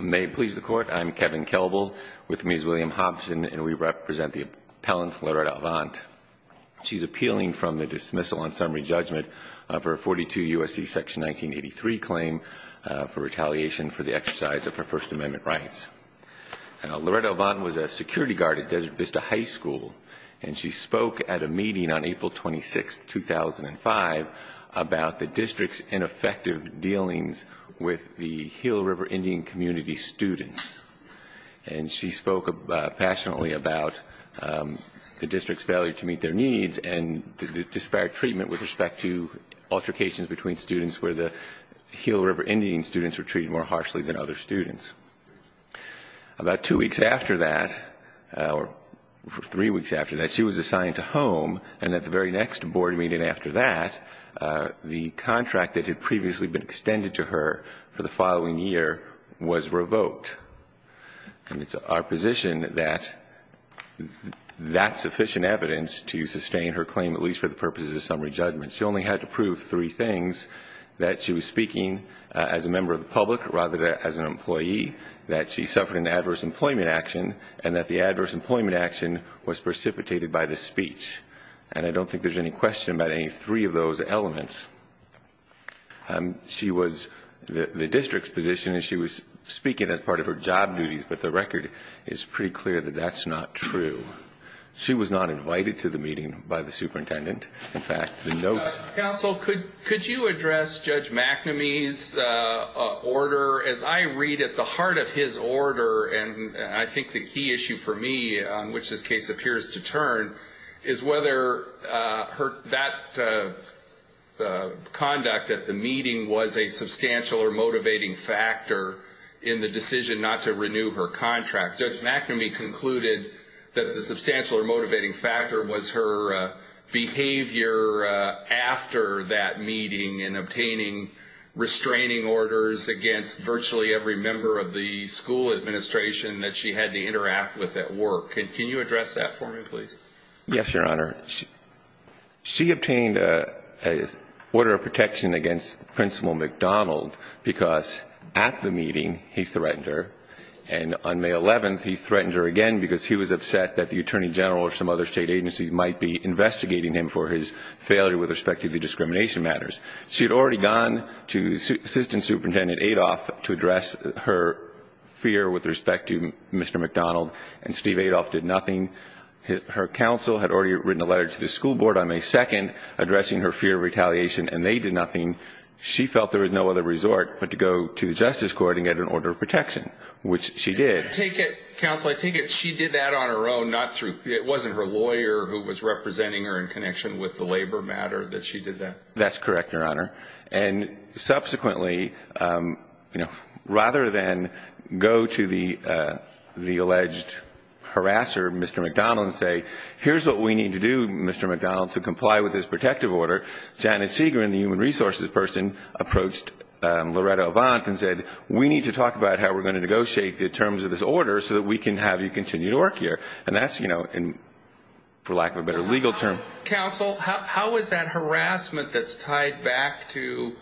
May it please the Court, I'm Kevin Kelbel with Ms. William Hobson and we represent the appellant Loretta Avent. She's appealing from the dismissal on summary judgment of her 42 U.S.C. Section 1983 claim for retaliation for the exercise of her First Amendment rights. Loretta Avent was a security guard at Desert Vista High School and she spoke at a meeting on April 26, 2005 about the district's ineffective dealings with the Hill River Indian Community students. And she spoke passionately about the district's failure to meet their needs and the disparate treatment with respect to altercations between students where the Hill River Indian students were treated more harshly than other students. About two weeks after that, or three weeks after that, she was assigned to home and at the very next board meeting after that, the contract that had previously been extended to her for the following year was revoked. And it's our position that that's sufficient evidence to sustain her claim, at least for the purposes of summary judgment. She only had to prove three things, that she was speaking as a member of the public rather than as an employee, that she suffered an adverse employment action, and that the adverse employment action was precipitated by the speech. And I don't think there's any question about any three of those elements. She was the district's position and she was speaking as part of her job duties, but the record is pretty clear that that's not true. She was not invited to the meeting by the superintendent. In fact, the notes- Counsel, could you address Judge McNamee's order? As I read at the heart of his order, and I think the key issue for me on which this case appears to turn, is whether that conduct at the meeting was a substantial or motivating factor in the decision not to renew her contract. Judge McNamee concluded that the substantial or motivating factor was her behavior after that meeting and obtaining restraining orders against virtually every member of the school administration that she had to interact with at work. Can you address that for me, please? Yes, Your Honor. She obtained an order of protection against Principal McDonald because at the meeting he threatened her, and on May 11th he threatened her again because he was upset that the Attorney General or some other state agency might be investigating him for his failure with respect to the discrimination matters. She had already gone to Assistant Superintendent Adolph to address her fear with respect to Mr. McDonald, and Steve Adolph did nothing. Her counsel had already written a letter to the school board on May 2nd addressing her fear of retaliation, and they did nothing. She felt there was no other resort but to go to the Justice Court and get an order of protection, which she did. Counsel, I take it she did that on her own, not through- it wasn't her lawyer who was representing her in connection with the labor matter that she did that? That's correct, Your Honor. And subsequently, you know, rather than go to the alleged harasser, Mr. McDonald, and say, here's what we need to do, Mr. McDonald, to comply with this protective order, Janet Segrin, the human resources person, approached Loretta Avant and said, we need to talk about how we're going to negotiate the terms of this order so that we can have you continue to work here. And that's, you know, for lack of a better legal term- Counsel, how is that harassment that's tied back to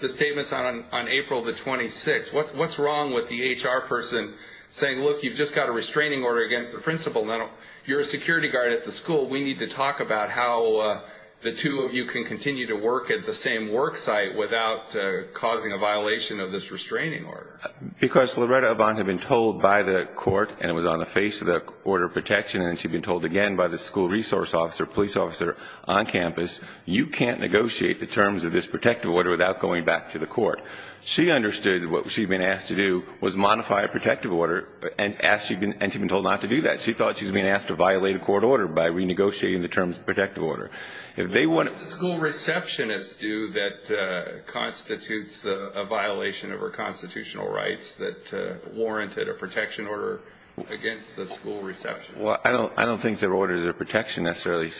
the statements on April the 26th, what's wrong with the HR person saying, look, you've just got a restraining order against the principal, now you're a security guard at the school, we need to talk about how the two of you can continue to work at the same work site without causing a violation of this restraining order? Because Loretta Avant had been told by the court, and it was on the face of the order of protection, and she'd been told again by the school resource officer, police officer on campus, you can't negotiate the terms of this protective order without going back to the court. She understood that what she'd been asked to do was modify a protective order, and she'd been told not to do that. She thought she was being asked to violate a court order by renegotiating the terms of the protective order. What do school receptionists do that constitutes a violation of our constitutional rights that warranted a protection order against the school receptionist? Well, I don't think their orders of protection necessarily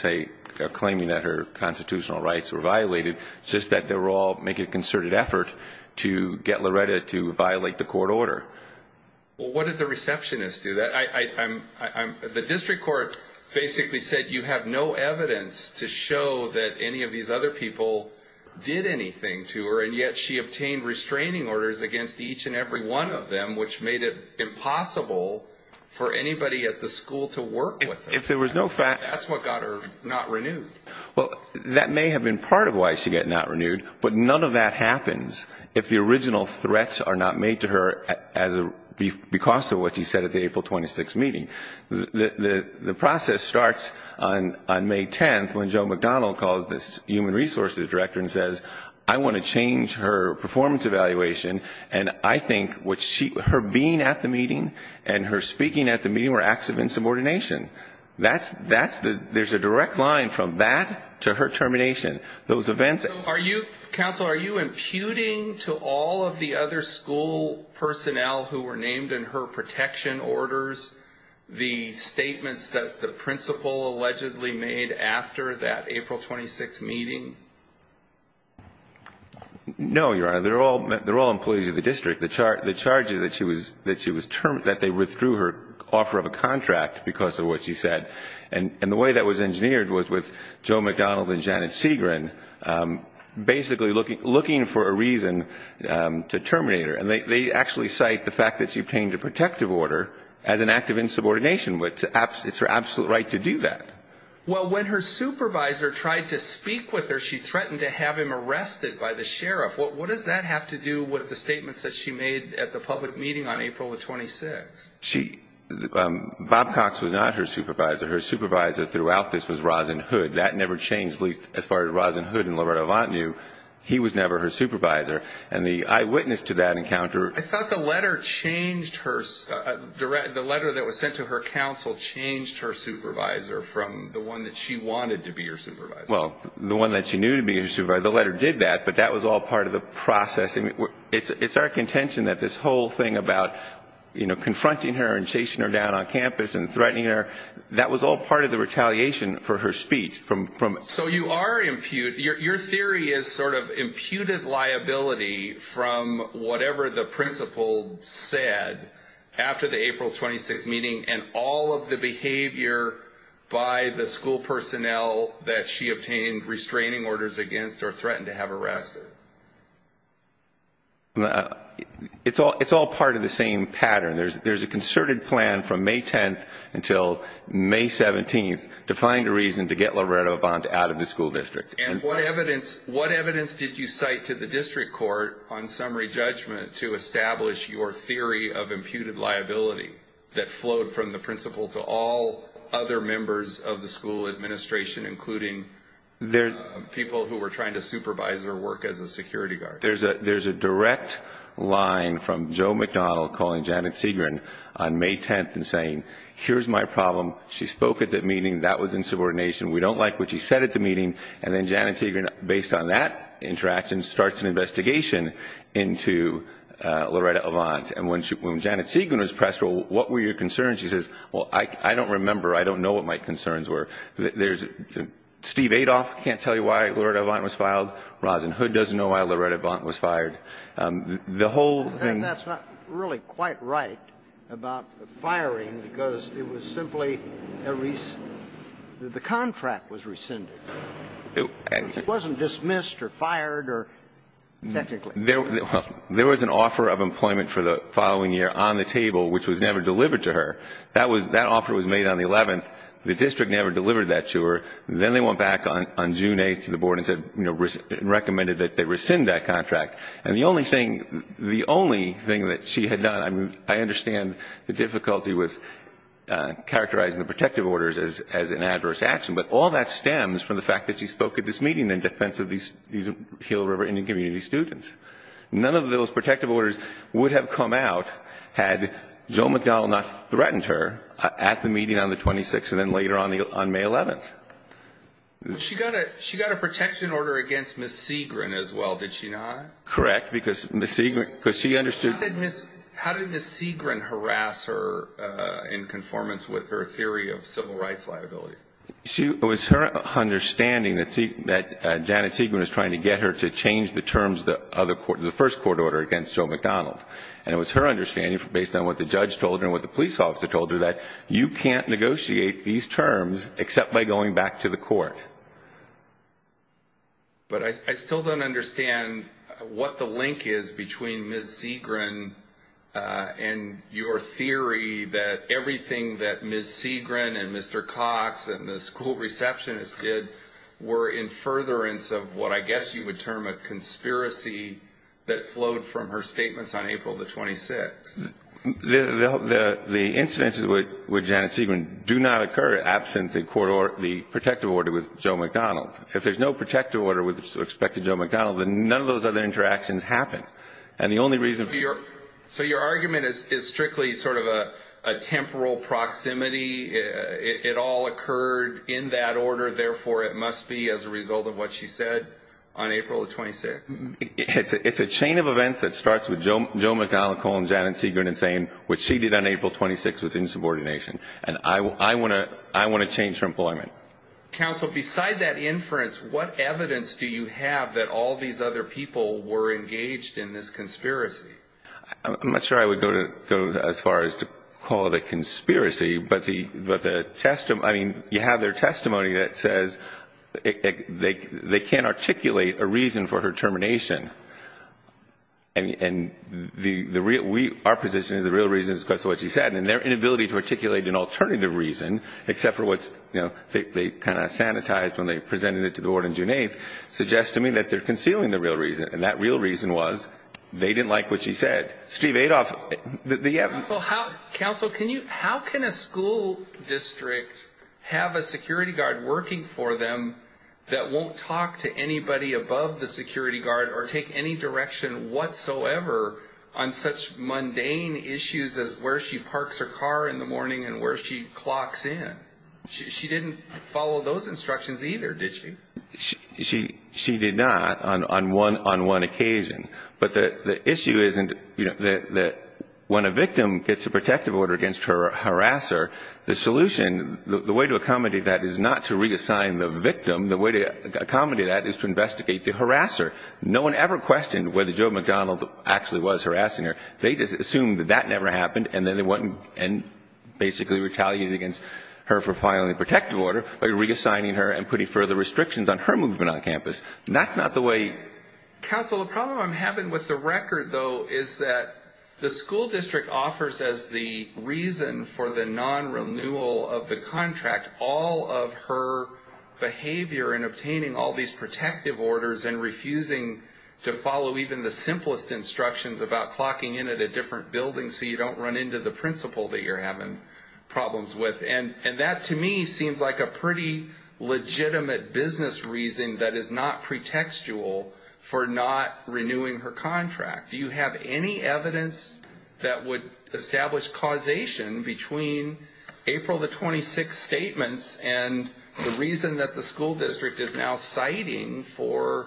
claim that her constitutional rights were violated. It's just that they were all making a concerted effort to get Loretta to violate the court order. Well, what did the receptionist do? The district court basically said you have no evidence to show that any of these other people did anything to her, and yet she obtained restraining orders against each and every one of them, which made it impossible for anybody at the school to work with her. That's what got her not renewed. Well, that may have been part of why she got not renewed, but none of that happens if the original threats are not made to her because of what she said at the April 26th meeting. The process starts on May 10th when Joe McDonald calls the human resources director and says, I want to change her performance evaluation, and I think her being at the meeting and her speaking at the meeting were acts of insubordination. There's a direct line from that to her termination. Those events are you... Counsel, are you imputing to all of the other school personnel who were named in her protection orders the statements that the principal allegedly made after that April 26th meeting? No, Your Honor. They're all employees of the district. The charge is that they withdrew her offer of a contract because of what she said, and the way that was engineered was with Joe McDonald and Janet Segrin basically looking for a reason to terminate her, and they actually cite the fact that she obtained a protective order as an act of insubordination, but it's her absolute right to do that. Well, when her supervisor tried to speak with her, she threatened to have him arrested by the sheriff. What does that have to do with the statements that she made at the public meeting on April the 26th? Bob Cox was not her supervisor. Her supervisor throughout this was Rosin Hood. That never changed, at least as far as Rosin Hood and Loretta Avant knew. He was never her supervisor, and the eyewitness to that encounter. I thought the letter that was sent to her counsel changed her supervisor from the one that she wanted to be her supervisor. Well, the one that she knew to be her supervisor, the letter did that, but that was all part of the process. It's our contention that this whole thing about confronting her and chasing her down on campus and threatening her, that was all part of the retaliation for her speech. So your theory is sort of imputed liability from whatever the principal said after the April 26th meeting and all of the behavior by the school personnel that she obtained restraining orders against or threatened to have arrested. It's all part of the same pattern. There's a concerted plan from May 10th until May 17th to find a reason to get Loretta Avant out of the school district. And what evidence did you cite to the district court on summary judgment to establish your theory of imputed liability that flowed from the principal to all other members of the school administration, including people who were trying to supervise or work as a security guard? There's a direct line from Joe McDonnell calling Janet Segrin on May 10th and saying, here's my problem. She spoke at the meeting. That was insubordination. We don't like what you said at the meeting. And then Janet Segrin, based on that interaction, starts an investigation into Loretta Avant. And when Janet Segrin was pressed, well, what were your concerns? She says, well, I don't remember. I don't know what my concerns were. Steve Adolph can't tell you why Loretta Avant was filed. Roslyn Hood doesn't know why Loretta Avant was fired. The whole thing. I think that's not really quite right about the firing because it was simply a reason. The contract was rescinded. It wasn't dismissed or fired or technically. There was an offer of employment for the following year on the table, which was never delivered to her. That offer was made on the 11th. The district never delivered that to her. Then they went back on June 8th to the board and recommended that they rescind that contract. And the only thing that she had done, I understand the difficulty with characterizing the protective orders as an adverse action, but all that stems from the fact that she spoke at this meeting in defense of these Hill River Indian community students. None of those protective orders would have come out had Joe McDowell not threatened her at the meeting on the 26th and then later on May 11th. She got a protection order against Ms. Segrin as well, did she not? Correct. How did Ms. Segrin harass her in conformance with her theory of civil rights liability? It was her understanding that Janet Segrin was trying to get her to change the terms of the first court order against Joe McDowell. And it was her understanding, based on what the judge told her and what the police officer told her, that you can't negotiate these terms except by going back to the court. But I still don't understand what the link is between Ms. Segrin and your theory that everything that Ms. Segrin and Mr. Cox and the school receptionist did were in furtherance of what I guess you would term a conspiracy that flowed from her statements on April the 26th. The incidences with Janet Segrin do not occur absent the protective order with Joe McDowell. If there's no protective order with respect to Joe McDowell, then none of those other interactions happen. And the only reason for your... So your argument is strictly sort of a temporal proximity, it all occurred in that order, therefore it must be as a result of what she said on April the 26th? It's a chain of events that starts with Joe McDowell calling Janet Segrin insane, which she did on April 26th with insubordination. And I want to change her employment. Counsel, beside that inference, what evidence do you have that all these other people were engaged in this conspiracy? I'm not sure I would go as far as to call it a conspiracy. But the testimony, I mean, you have their testimony that says they can't articulate a reason for her termination. And our position is the real reason is because of what she said, and their inability to articulate an alternative reason except for what they kind of sanitized when they presented it to the board on June 8th suggests to me that they're concealing the real reason, and that real reason was they didn't like what she said. Counsel, how can a school district have a security guard working for them that won't talk to anybody above the security guard or take any direction whatsoever on such mundane issues as where she parks her car in the morning and where she clocks in? She didn't follow those instructions either, did she? She did not on one occasion. But the issue isn't that when a victim gets a protective order against her harasser, the solution, the way to accommodate that is not to reassign the victim. The way to accommodate that is to investigate the harasser. No one ever questioned whether Joe McDonald actually was harassing her. They just assumed that that never happened, and then they went and basically retaliated against her for filing a protective order by reassigning her and putting further restrictions on her movement on campus. Counsel, the problem I'm having with the record, though, is that the school district offers as the reason for the non-renewal of the contract all of her behavior in obtaining all these protective orders and refusing to follow even the simplest instructions about clocking in at a different building so you don't run into the principal that you're having problems with. And that, to me, seems like a pretty legitimate business reason that is not pretextual for not renewing her contract. Do you have any evidence that would establish causation between April the 26th statements and the reason that the school district is now citing for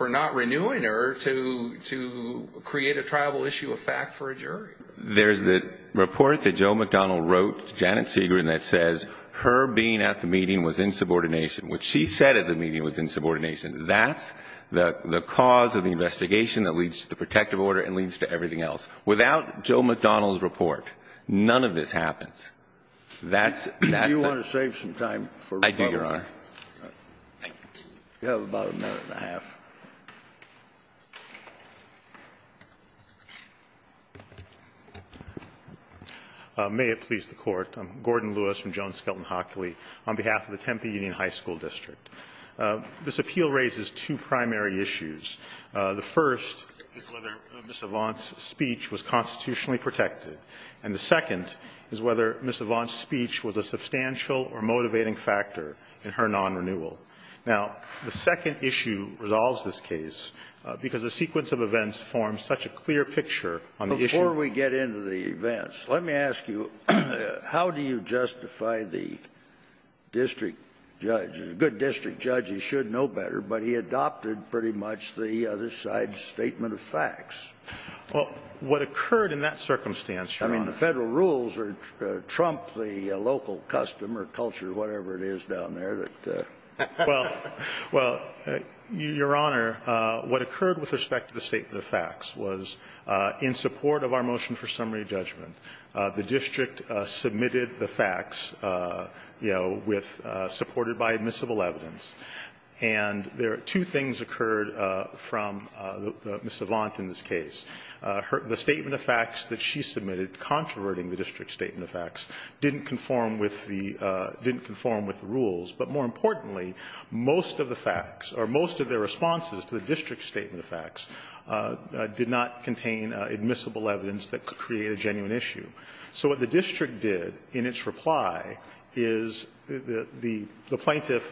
not renewing her to create a tribal issue of fact for a jury? There's the report that Joe McDonald wrote to Janet Segrin that says her being at the meeting was in subordination, which she said at the meeting was in subordination. That's the cause of the investigation that leads to the protective order and leads to everything else. Without Joe McDonald's report, none of this happens. That's the – Do you want to save some time for rebuttal? I do, Your Honor. You have about a minute and a half. May it please the Court. I'm Gordon Lewis from Joan Skelton Hockley on behalf of the Tempe Union High School District. This appeal raises two primary issues. The first is whether Ms. Avant's speech was constitutionally protected, and the second is whether Ms. Avant's speech was a substantial or motivating factor in her non-renewal. Now, the second issue resolves this case because the sequence of events forms such a clear picture on the issue. Before we get into the events, let me ask you, how do you justify the district judge? A good district judge, he should know better, but he adopted pretty much the other side's statement of facts. Well, what occurred in that circumstance, Your Honor. I mean, the Federal rules trump the local custom or culture, whatever it is down there. Well, Your Honor, what occurred with respect to the statement of facts was in support of our motion for summary judgment, the district submitted the facts, you know, with – supported by admissible evidence. And there are two things occurred from Ms. Avant in this case. The statement of facts that she submitted, controverting the district's statement of facts, didn't conform with the – didn't conform with the rules. But more importantly, most of the facts or most of the responses to the district's statement of facts did not contain admissible evidence that could create a genuine issue. So what the district did in its reply is the plaintiff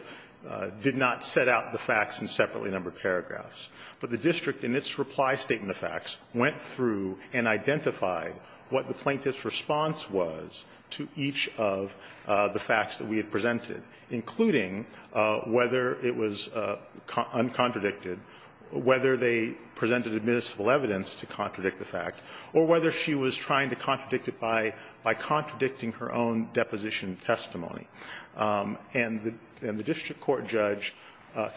did not set out the facts in this case, went through and identified what the plaintiff's response was to each of the facts that we had presented, including whether it was uncontradicted, whether they presented admissible evidence to contradict the fact, or whether she was trying to contradict it by contradicting her own deposition testimony. And the district court judge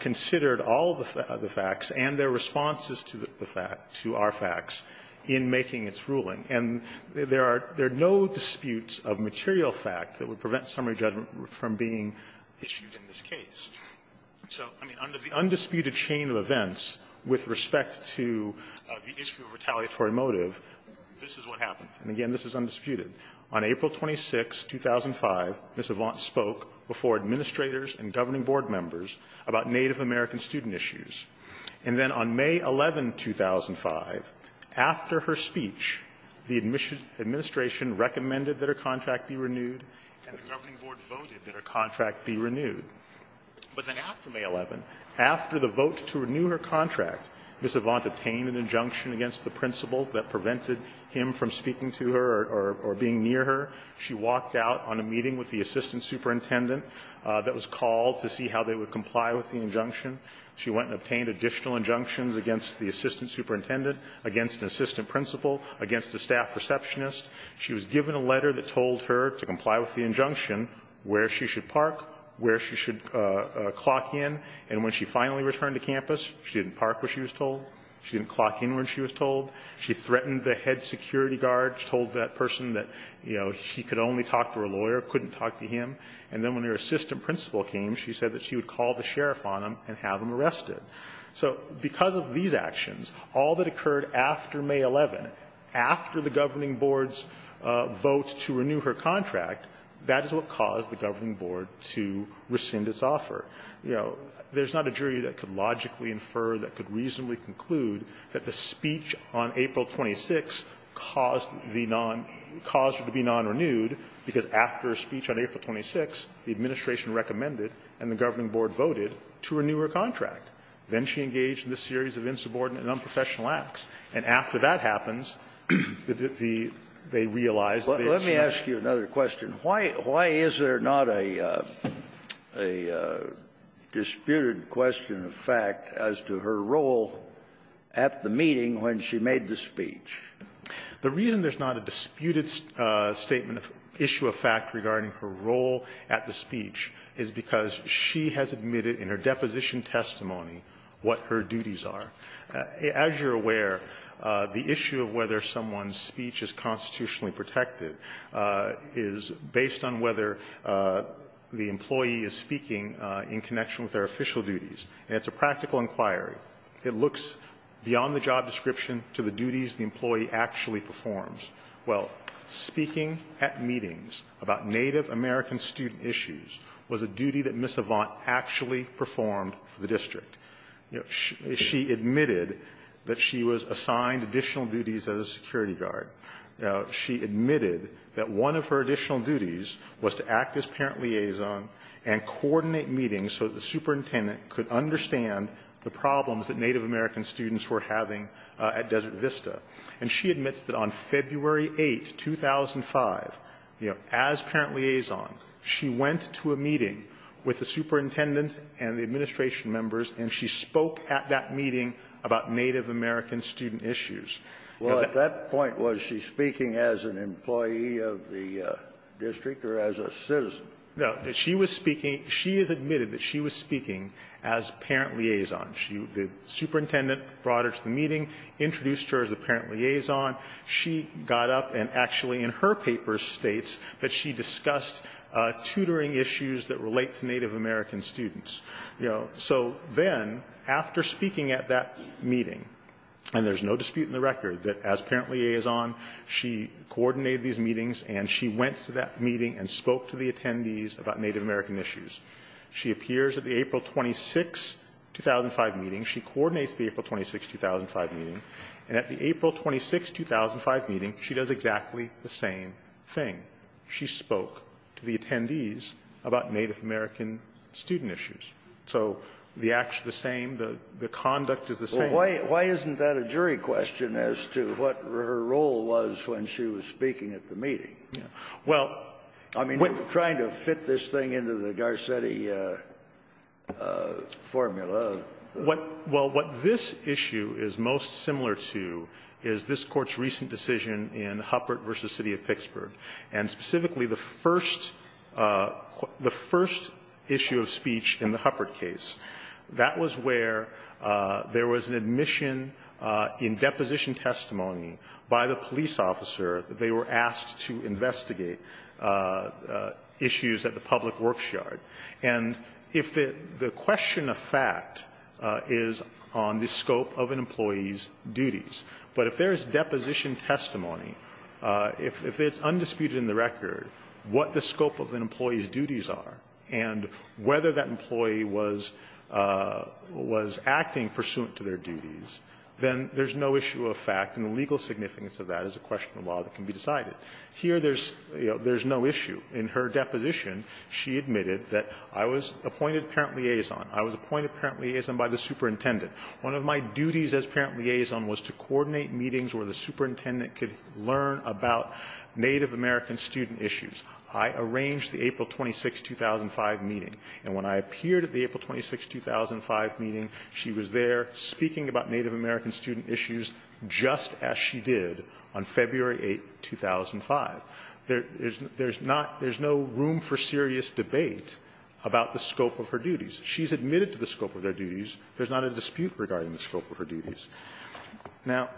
considered all of the facts and their responses to the fact – to our facts in making its ruling. And there are – there are no disputes of material fact that would prevent summary judgment from being issued in this case. So, I mean, under the undisputed chain of events with respect to the issue of retaliatory motive, this is what happened. And again, this is undisputed. On April 26, 2005, Ms. Avant spoke before administrators and governing board members about Native American student issues. And then on May 11, 2005, after her speech, the administration recommended that her contract be renewed, and the governing board voted that her contract be renewed. But then after May 11, after the vote to renew her contract, Ms. Avant obtained an injunction against the principal that prevented him from speaking to her or being near her. She walked out on a meeting with the assistant superintendent that was called to see how they would comply with the injunction. She went and obtained additional injunctions against the assistant superintendent, against an assistant principal, against a staff receptionist. She was given a letter that told her to comply with the injunction, where she should park, where she should clock in. And when she finally returned to campus, she didn't park where she was told, she didn't clock in where she was told. She threatened the head security guard, told that person that, you know, she could only talk to her lawyer, couldn't talk to him. And then when her assistant principal came, she said that she would call the sheriff on him and have him arrested. So because of these actions, all that occurred after May 11, after the governing board's vote to renew her contract, that is what caused the governing board to rescind its offer. You know, there's not a jury that could logically infer, that could reasonably conclude that the speech on April 26 caused the non --" caused her to be non-renewed, because after a speech on April 26, the administration recommended and the governing board voted to renew her contract. Then she engaged in a series of insubordinate and unprofessional acts. And after that happens, the --" they realized that they had changed the contract. The reason there's not a disputed statement of issue of fact regarding her role at the speech is because she has admitted in her deposition testimony what her duties are. As you're aware, the issue of whether someone's speech is constitutionally protected is based on whether the employee is speaking in a way that is in the interest of the employee in connection with their official duties. And it's a practical inquiry. It looks beyond the job description to the duties the employee actually performs. Well, speaking at meetings about Native American student issues was a duty that Ms. Avant actually performed for the district. She admitted that she was assigned additional duties as a security guard. She admitted that one of her additional duties was to act as parent liaison and coordinate meetings so the superintendent could understand the problems that Native American students were having at Desert Vista. And she admits that on February 8, 2005, you know, as parent liaison, she went to a meeting with the superintendent and the administration members, and she spoke at that meeting about Native American student issues. Well, at that point, was she speaking as an employee of the district or as a citizen? No. She was speaking. She has admitted that she was speaking as parent liaison. The superintendent brought her to the meeting, introduced her as a parent liaison. She got up and actually in her papers states that she discussed tutoring issues that relate to Native American students, you know. So then, after speaking at that meeting, and there's no dispute in the record that as parent She coordinated these meetings, and she went to that meeting and spoke to the attendees about Native American issues. She appears at the April 26, 2005, meeting. She coordinates the April 26, 2005, meeting. And at the April 26, 2005, meeting, she does exactly the same thing. She spoke to the attendees about Native American student issues. So the action is the same, the conduct is the same. Why isn't that a jury question as to what her role was when she was speaking at the meeting? I mean, trying to fit this thing into the Garcetti formula. Well, what this issue is most similar to is this Court's recent decision in Huppert v. City of Pittsburgh, and specifically the first issue of speech in the Huppert case. That was where there was an admission in deposition testimony by the police officer that they were asked to investigate issues at the public works yard. And if the question of fact is on the scope of an employee's duties, but if there is deposition testimony, if it's undisputed in the record what the scope of an employee's duties was acting pursuant to their duties, then there's no issue of fact. And the legal significance of that is a question of law that can be decided. Here, there's no issue. In her deposition, she admitted that I was appointed parent liaison. I was appointed parent liaison by the superintendent. One of my duties as parent liaison was to coordinate meetings where the superintendent could learn about Native American student issues. I arranged the April 26, 2005, meeting. And when I appeared at the April 26, 2005, meeting, she was there speaking about Native American student issues just as she did on February 8, 2005. There's not – there's no room for serious debate about the scope of her duties. She's admitted to the scope of their duties. There's not a dispute regarding the scope of her duties. Now,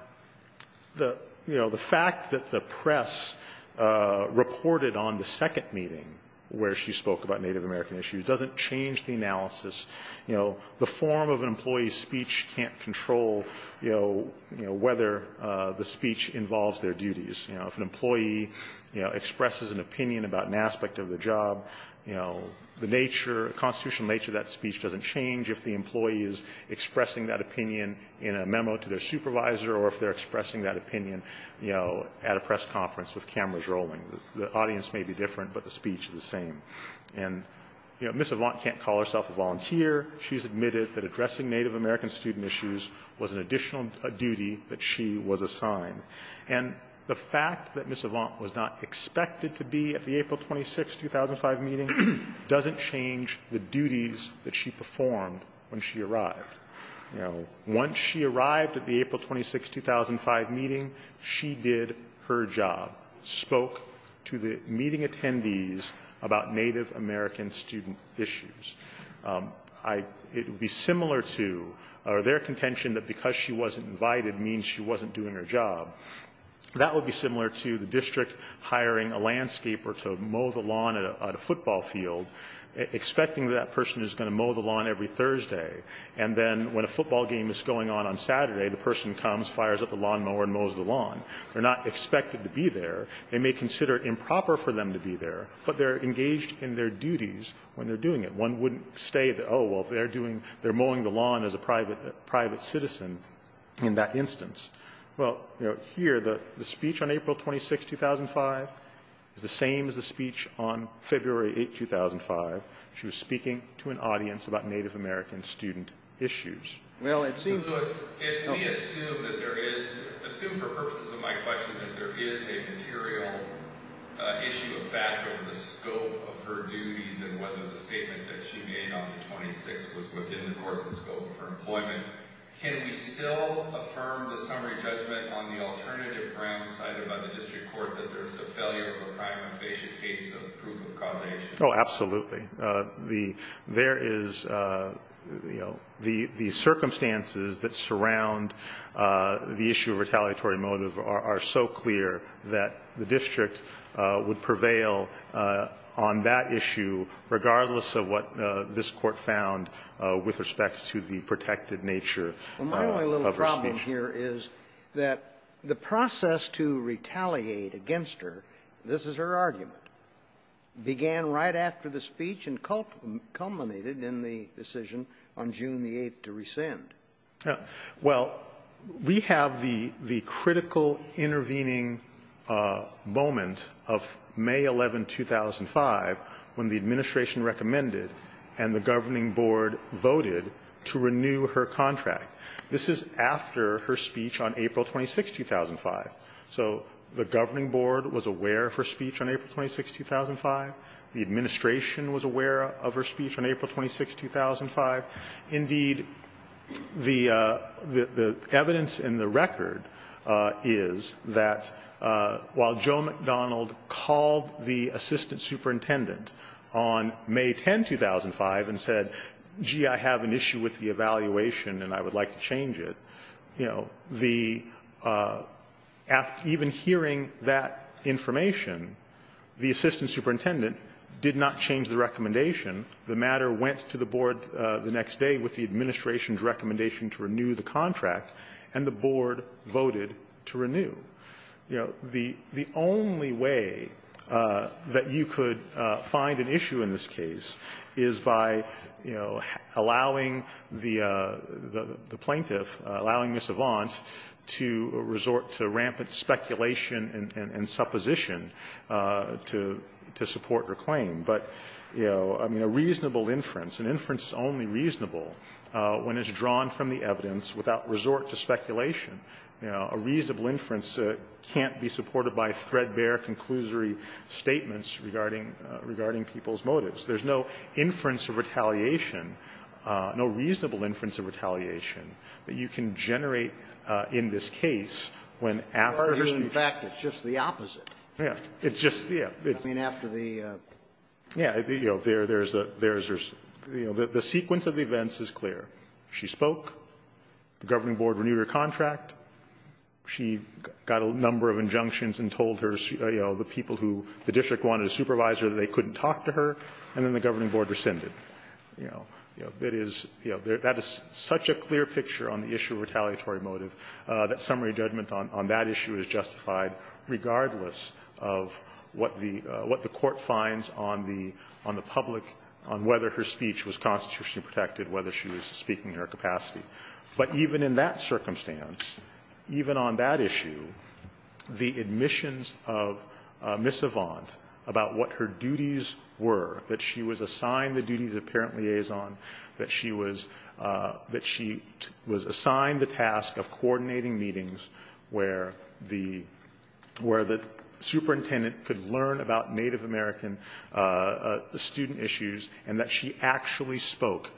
the – you know, the fact that the press reported on the second meeting where she spoke about Native American issues doesn't change the analysis. You know, the form of an employee's speech can't control, you know, whether the speech involves their duties. You know, if an employee, you know, expresses an opinion about an aspect of the job, you know, the nature – the constitutional nature of that speech doesn't change if the employee is expressing that opinion in a memo to their supervisor or if they're expressing that opinion, you know, at a press conference with cameras rolling. The audience may be different, but the speech is the same. And, you know, Ms. Avant can't call herself a volunteer. She's admitted that addressing Native American student issues was an additional duty that she was assigned. And the fact that Ms. Avant was not expected to be at the April 26, 2005, meeting doesn't change the duties that she performed when she arrived. You know, once she arrived at the April 26, 2005, meeting, she did her job. Spoke to the meeting attendees about Native American student issues. I – it would be similar to – or their contention that because she wasn't invited means she wasn't doing her job. That would be similar to the district hiring a landscaper to mow the lawn at a football field, expecting that that person is going to mow the lawn every Thursday. And then when a football game is going on on Saturday, the person comes, fires up the lawnmower, and mows the lawn. They're not expected to be there. They may consider it improper for them to be there, but they're engaged in their duties when they're doing it. One wouldn't say that, oh, well, they're doing – they're mowing the lawn as a private citizen in that instance. Well, you know, here, the speech on April 26, 2005 is the same as the speech on February 8, 2005. She was speaking to an audience about Native American student issues. Well, it seems – So, Lewis, if we assume that there is – assume for purposes of my question that there is a material issue of fact over the scope of her duties and whether the statement that she made on the 26th was within the course and scope of her employment, can we still affirm the summary judgment on the alternative grounds cited by the district court that there's a failure of a prima facie case of proof of causation? Oh, absolutely. The – there is – you know, the circumstances that surround the issue of retaliatory motive are so clear that the district would prevail on that issue regardless of what this Court found with respect to the protected nature of her speech. Well, my only little problem here is that the process to retaliate against her – this is her argument – began right after the speech and culminated in the decision on June the 8th to rescind. Well, we have the – the critical intervening moment of May 11, 2005 when the administration recommended and the governing board voted to renew her contract. This is after her speech on April 26, 2005. So the governing board was aware of her speech on April 26, 2005. The administration was aware of her speech on April 26, 2005. Indeed, the evidence in the record is that while Joe McDonald called the assistant superintendent on May 10, 2005 and said, gee, I have an issue with the evaluation and I would like to change it, you know, the – even hearing that information, the assistant superintendent did not change the recommendation. The matter went to the board the next day with the administration's recommendation to renew the contract, and the board voted to renew. You know, the only way that you could find an issue in this case is by, you know, allowing the plaintiff, allowing Ms. Avant to resort to rampant speculation and supposition to support her claim. But, you know, I mean, a reasonable inference, an inference is only reasonable when it's drawn from the evidence without resort to speculation. You know, a reasonable inference can't be supported by threadbare, conclusory statements regarding people's motives. There's no inference of retaliation, no reasonable inference of retaliation that you can generate in this case when after her speech. Sotomayor, in fact, it's just the opposite. Yeah. It's just, yeah. I mean, after the — Yeah. You know, there's a – there's a – you know, the sequence of events is clear. She spoke. The governing board renewed her contract. She got a number of injunctions and told her, you know, the people who – the district wanted a supervisor that they couldn't talk to her. And then the governing board rescinded. You know, that is – you know, that is such a clear picture on the issue of retaliatory motive that summary judgment on that issue is justified regardless of what the – what the Court finds on the public – on whether her speech was constitutionally protected, whether she was speaking in her capacity. But even in that circumstance, even on that issue, the admissions of Ms. Avant about what her duties were, that she was assigned the duties of parent liaison, that she was – that she was assigned the task of coordinating meetings where the – where the superintendent could learn about Native American student issues, and that she actually spoke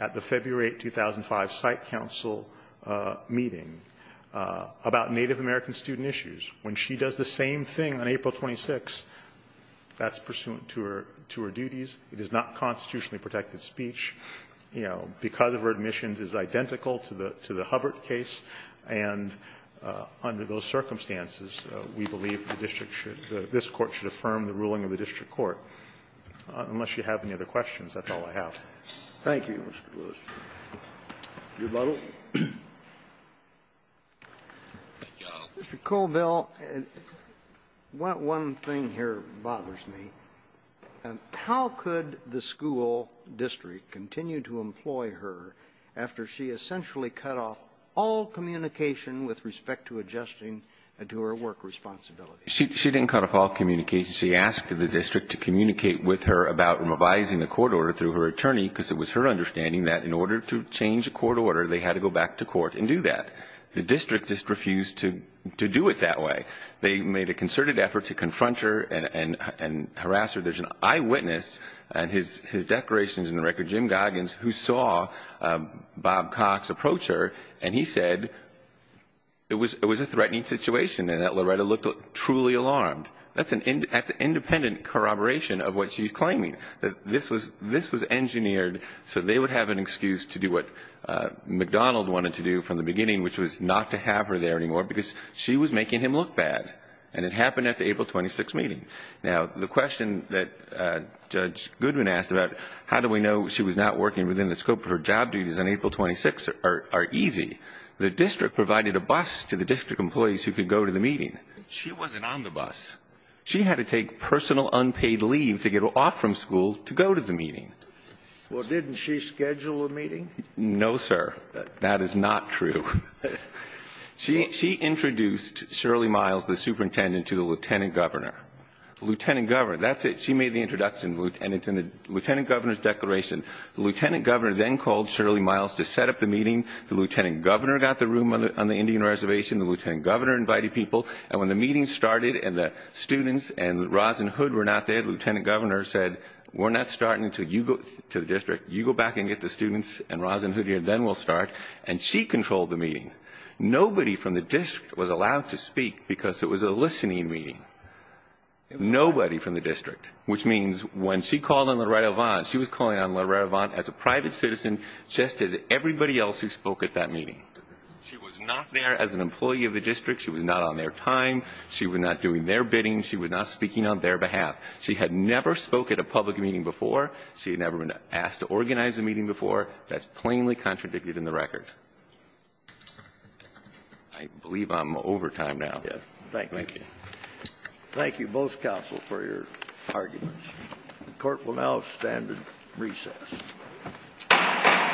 at the February 2005 site council meeting about Native American student issues. When she does the same thing on April 26th, that's pursuant to her – to her duties. It is not constitutionally protected speech. You know, because of her admissions, it is identical to the – to the Hubbard case. And under those circumstances, we believe the district should – that this Court should affirm the ruling of the district court. Unless you have any other questions, that's all I have. Thank you, Mr. Lewis. Your model. Mr. Colville, one thing here bothers me. How could the school district continue to employ her after she essentially cut off all communication with respect to adjusting to her work responsibilities? She didn't cut off all communication. She asked the district to communicate with her about revising the court order through her attorney because it was her understanding that in order to change the court order, they had to go back to court and do that. The district just refused to do it that way. They made a concerted effort to confront her and harass her. There's an eyewitness in his declarations in the record, Jim Goggins, who saw Bob Cox approach her, and he said it was a threatening situation and that Loretta looked truly alarmed. That's an independent corroboration of what she's claiming. This was engineered so they would have an excuse to do what McDonald wanted to do from the beginning, which was not to have her there anymore because she was making him look bad. And it happened at the April 26th meeting. Now, the question that Judge Goodwin asked about how do we know she was not working within the scope of her job duties on April 26th are easy. The district provided a bus to the district employees who could go to the meeting. She wasn't on the bus. She had to take personal unpaid leave to get off from school to go to the meeting. Well, didn't she schedule a meeting? No, sir. That is not true. She introduced Shirley Miles, the superintendent, to the lieutenant governor. Lieutenant governor. That's it. She made the introduction, and it's in the lieutenant governor's declaration. The lieutenant governor then called Shirley Miles to set up the meeting. The lieutenant governor got the room on the Indian Reservation. The lieutenant governor invited people. And when the meeting started and the students and Roz and Hood were not there, the lieutenant governor said, we're not starting until you go to the district. You go back and get the students and Roz and Hood here, then we'll start. And she controlled the meeting. Nobody from the district was allowed to speak because it was a listening meeting. Nobody from the district. Which means when she called on Loretta Vaughn, she was calling on Loretta Vaughn as a private citizen, just as everybody else who spoke at that meeting. She was not there as an employee of the district. She was not on their time. She was not doing their bidding. She was not speaking on their behalf. She had never spoke at a public meeting before. She had never been asked to organize a meeting before. That's plainly contradicted in the record. I believe I'm over time now. Thank you. Thank you. Thank you, both counsel, for your arguments. The Court will now stand at recess.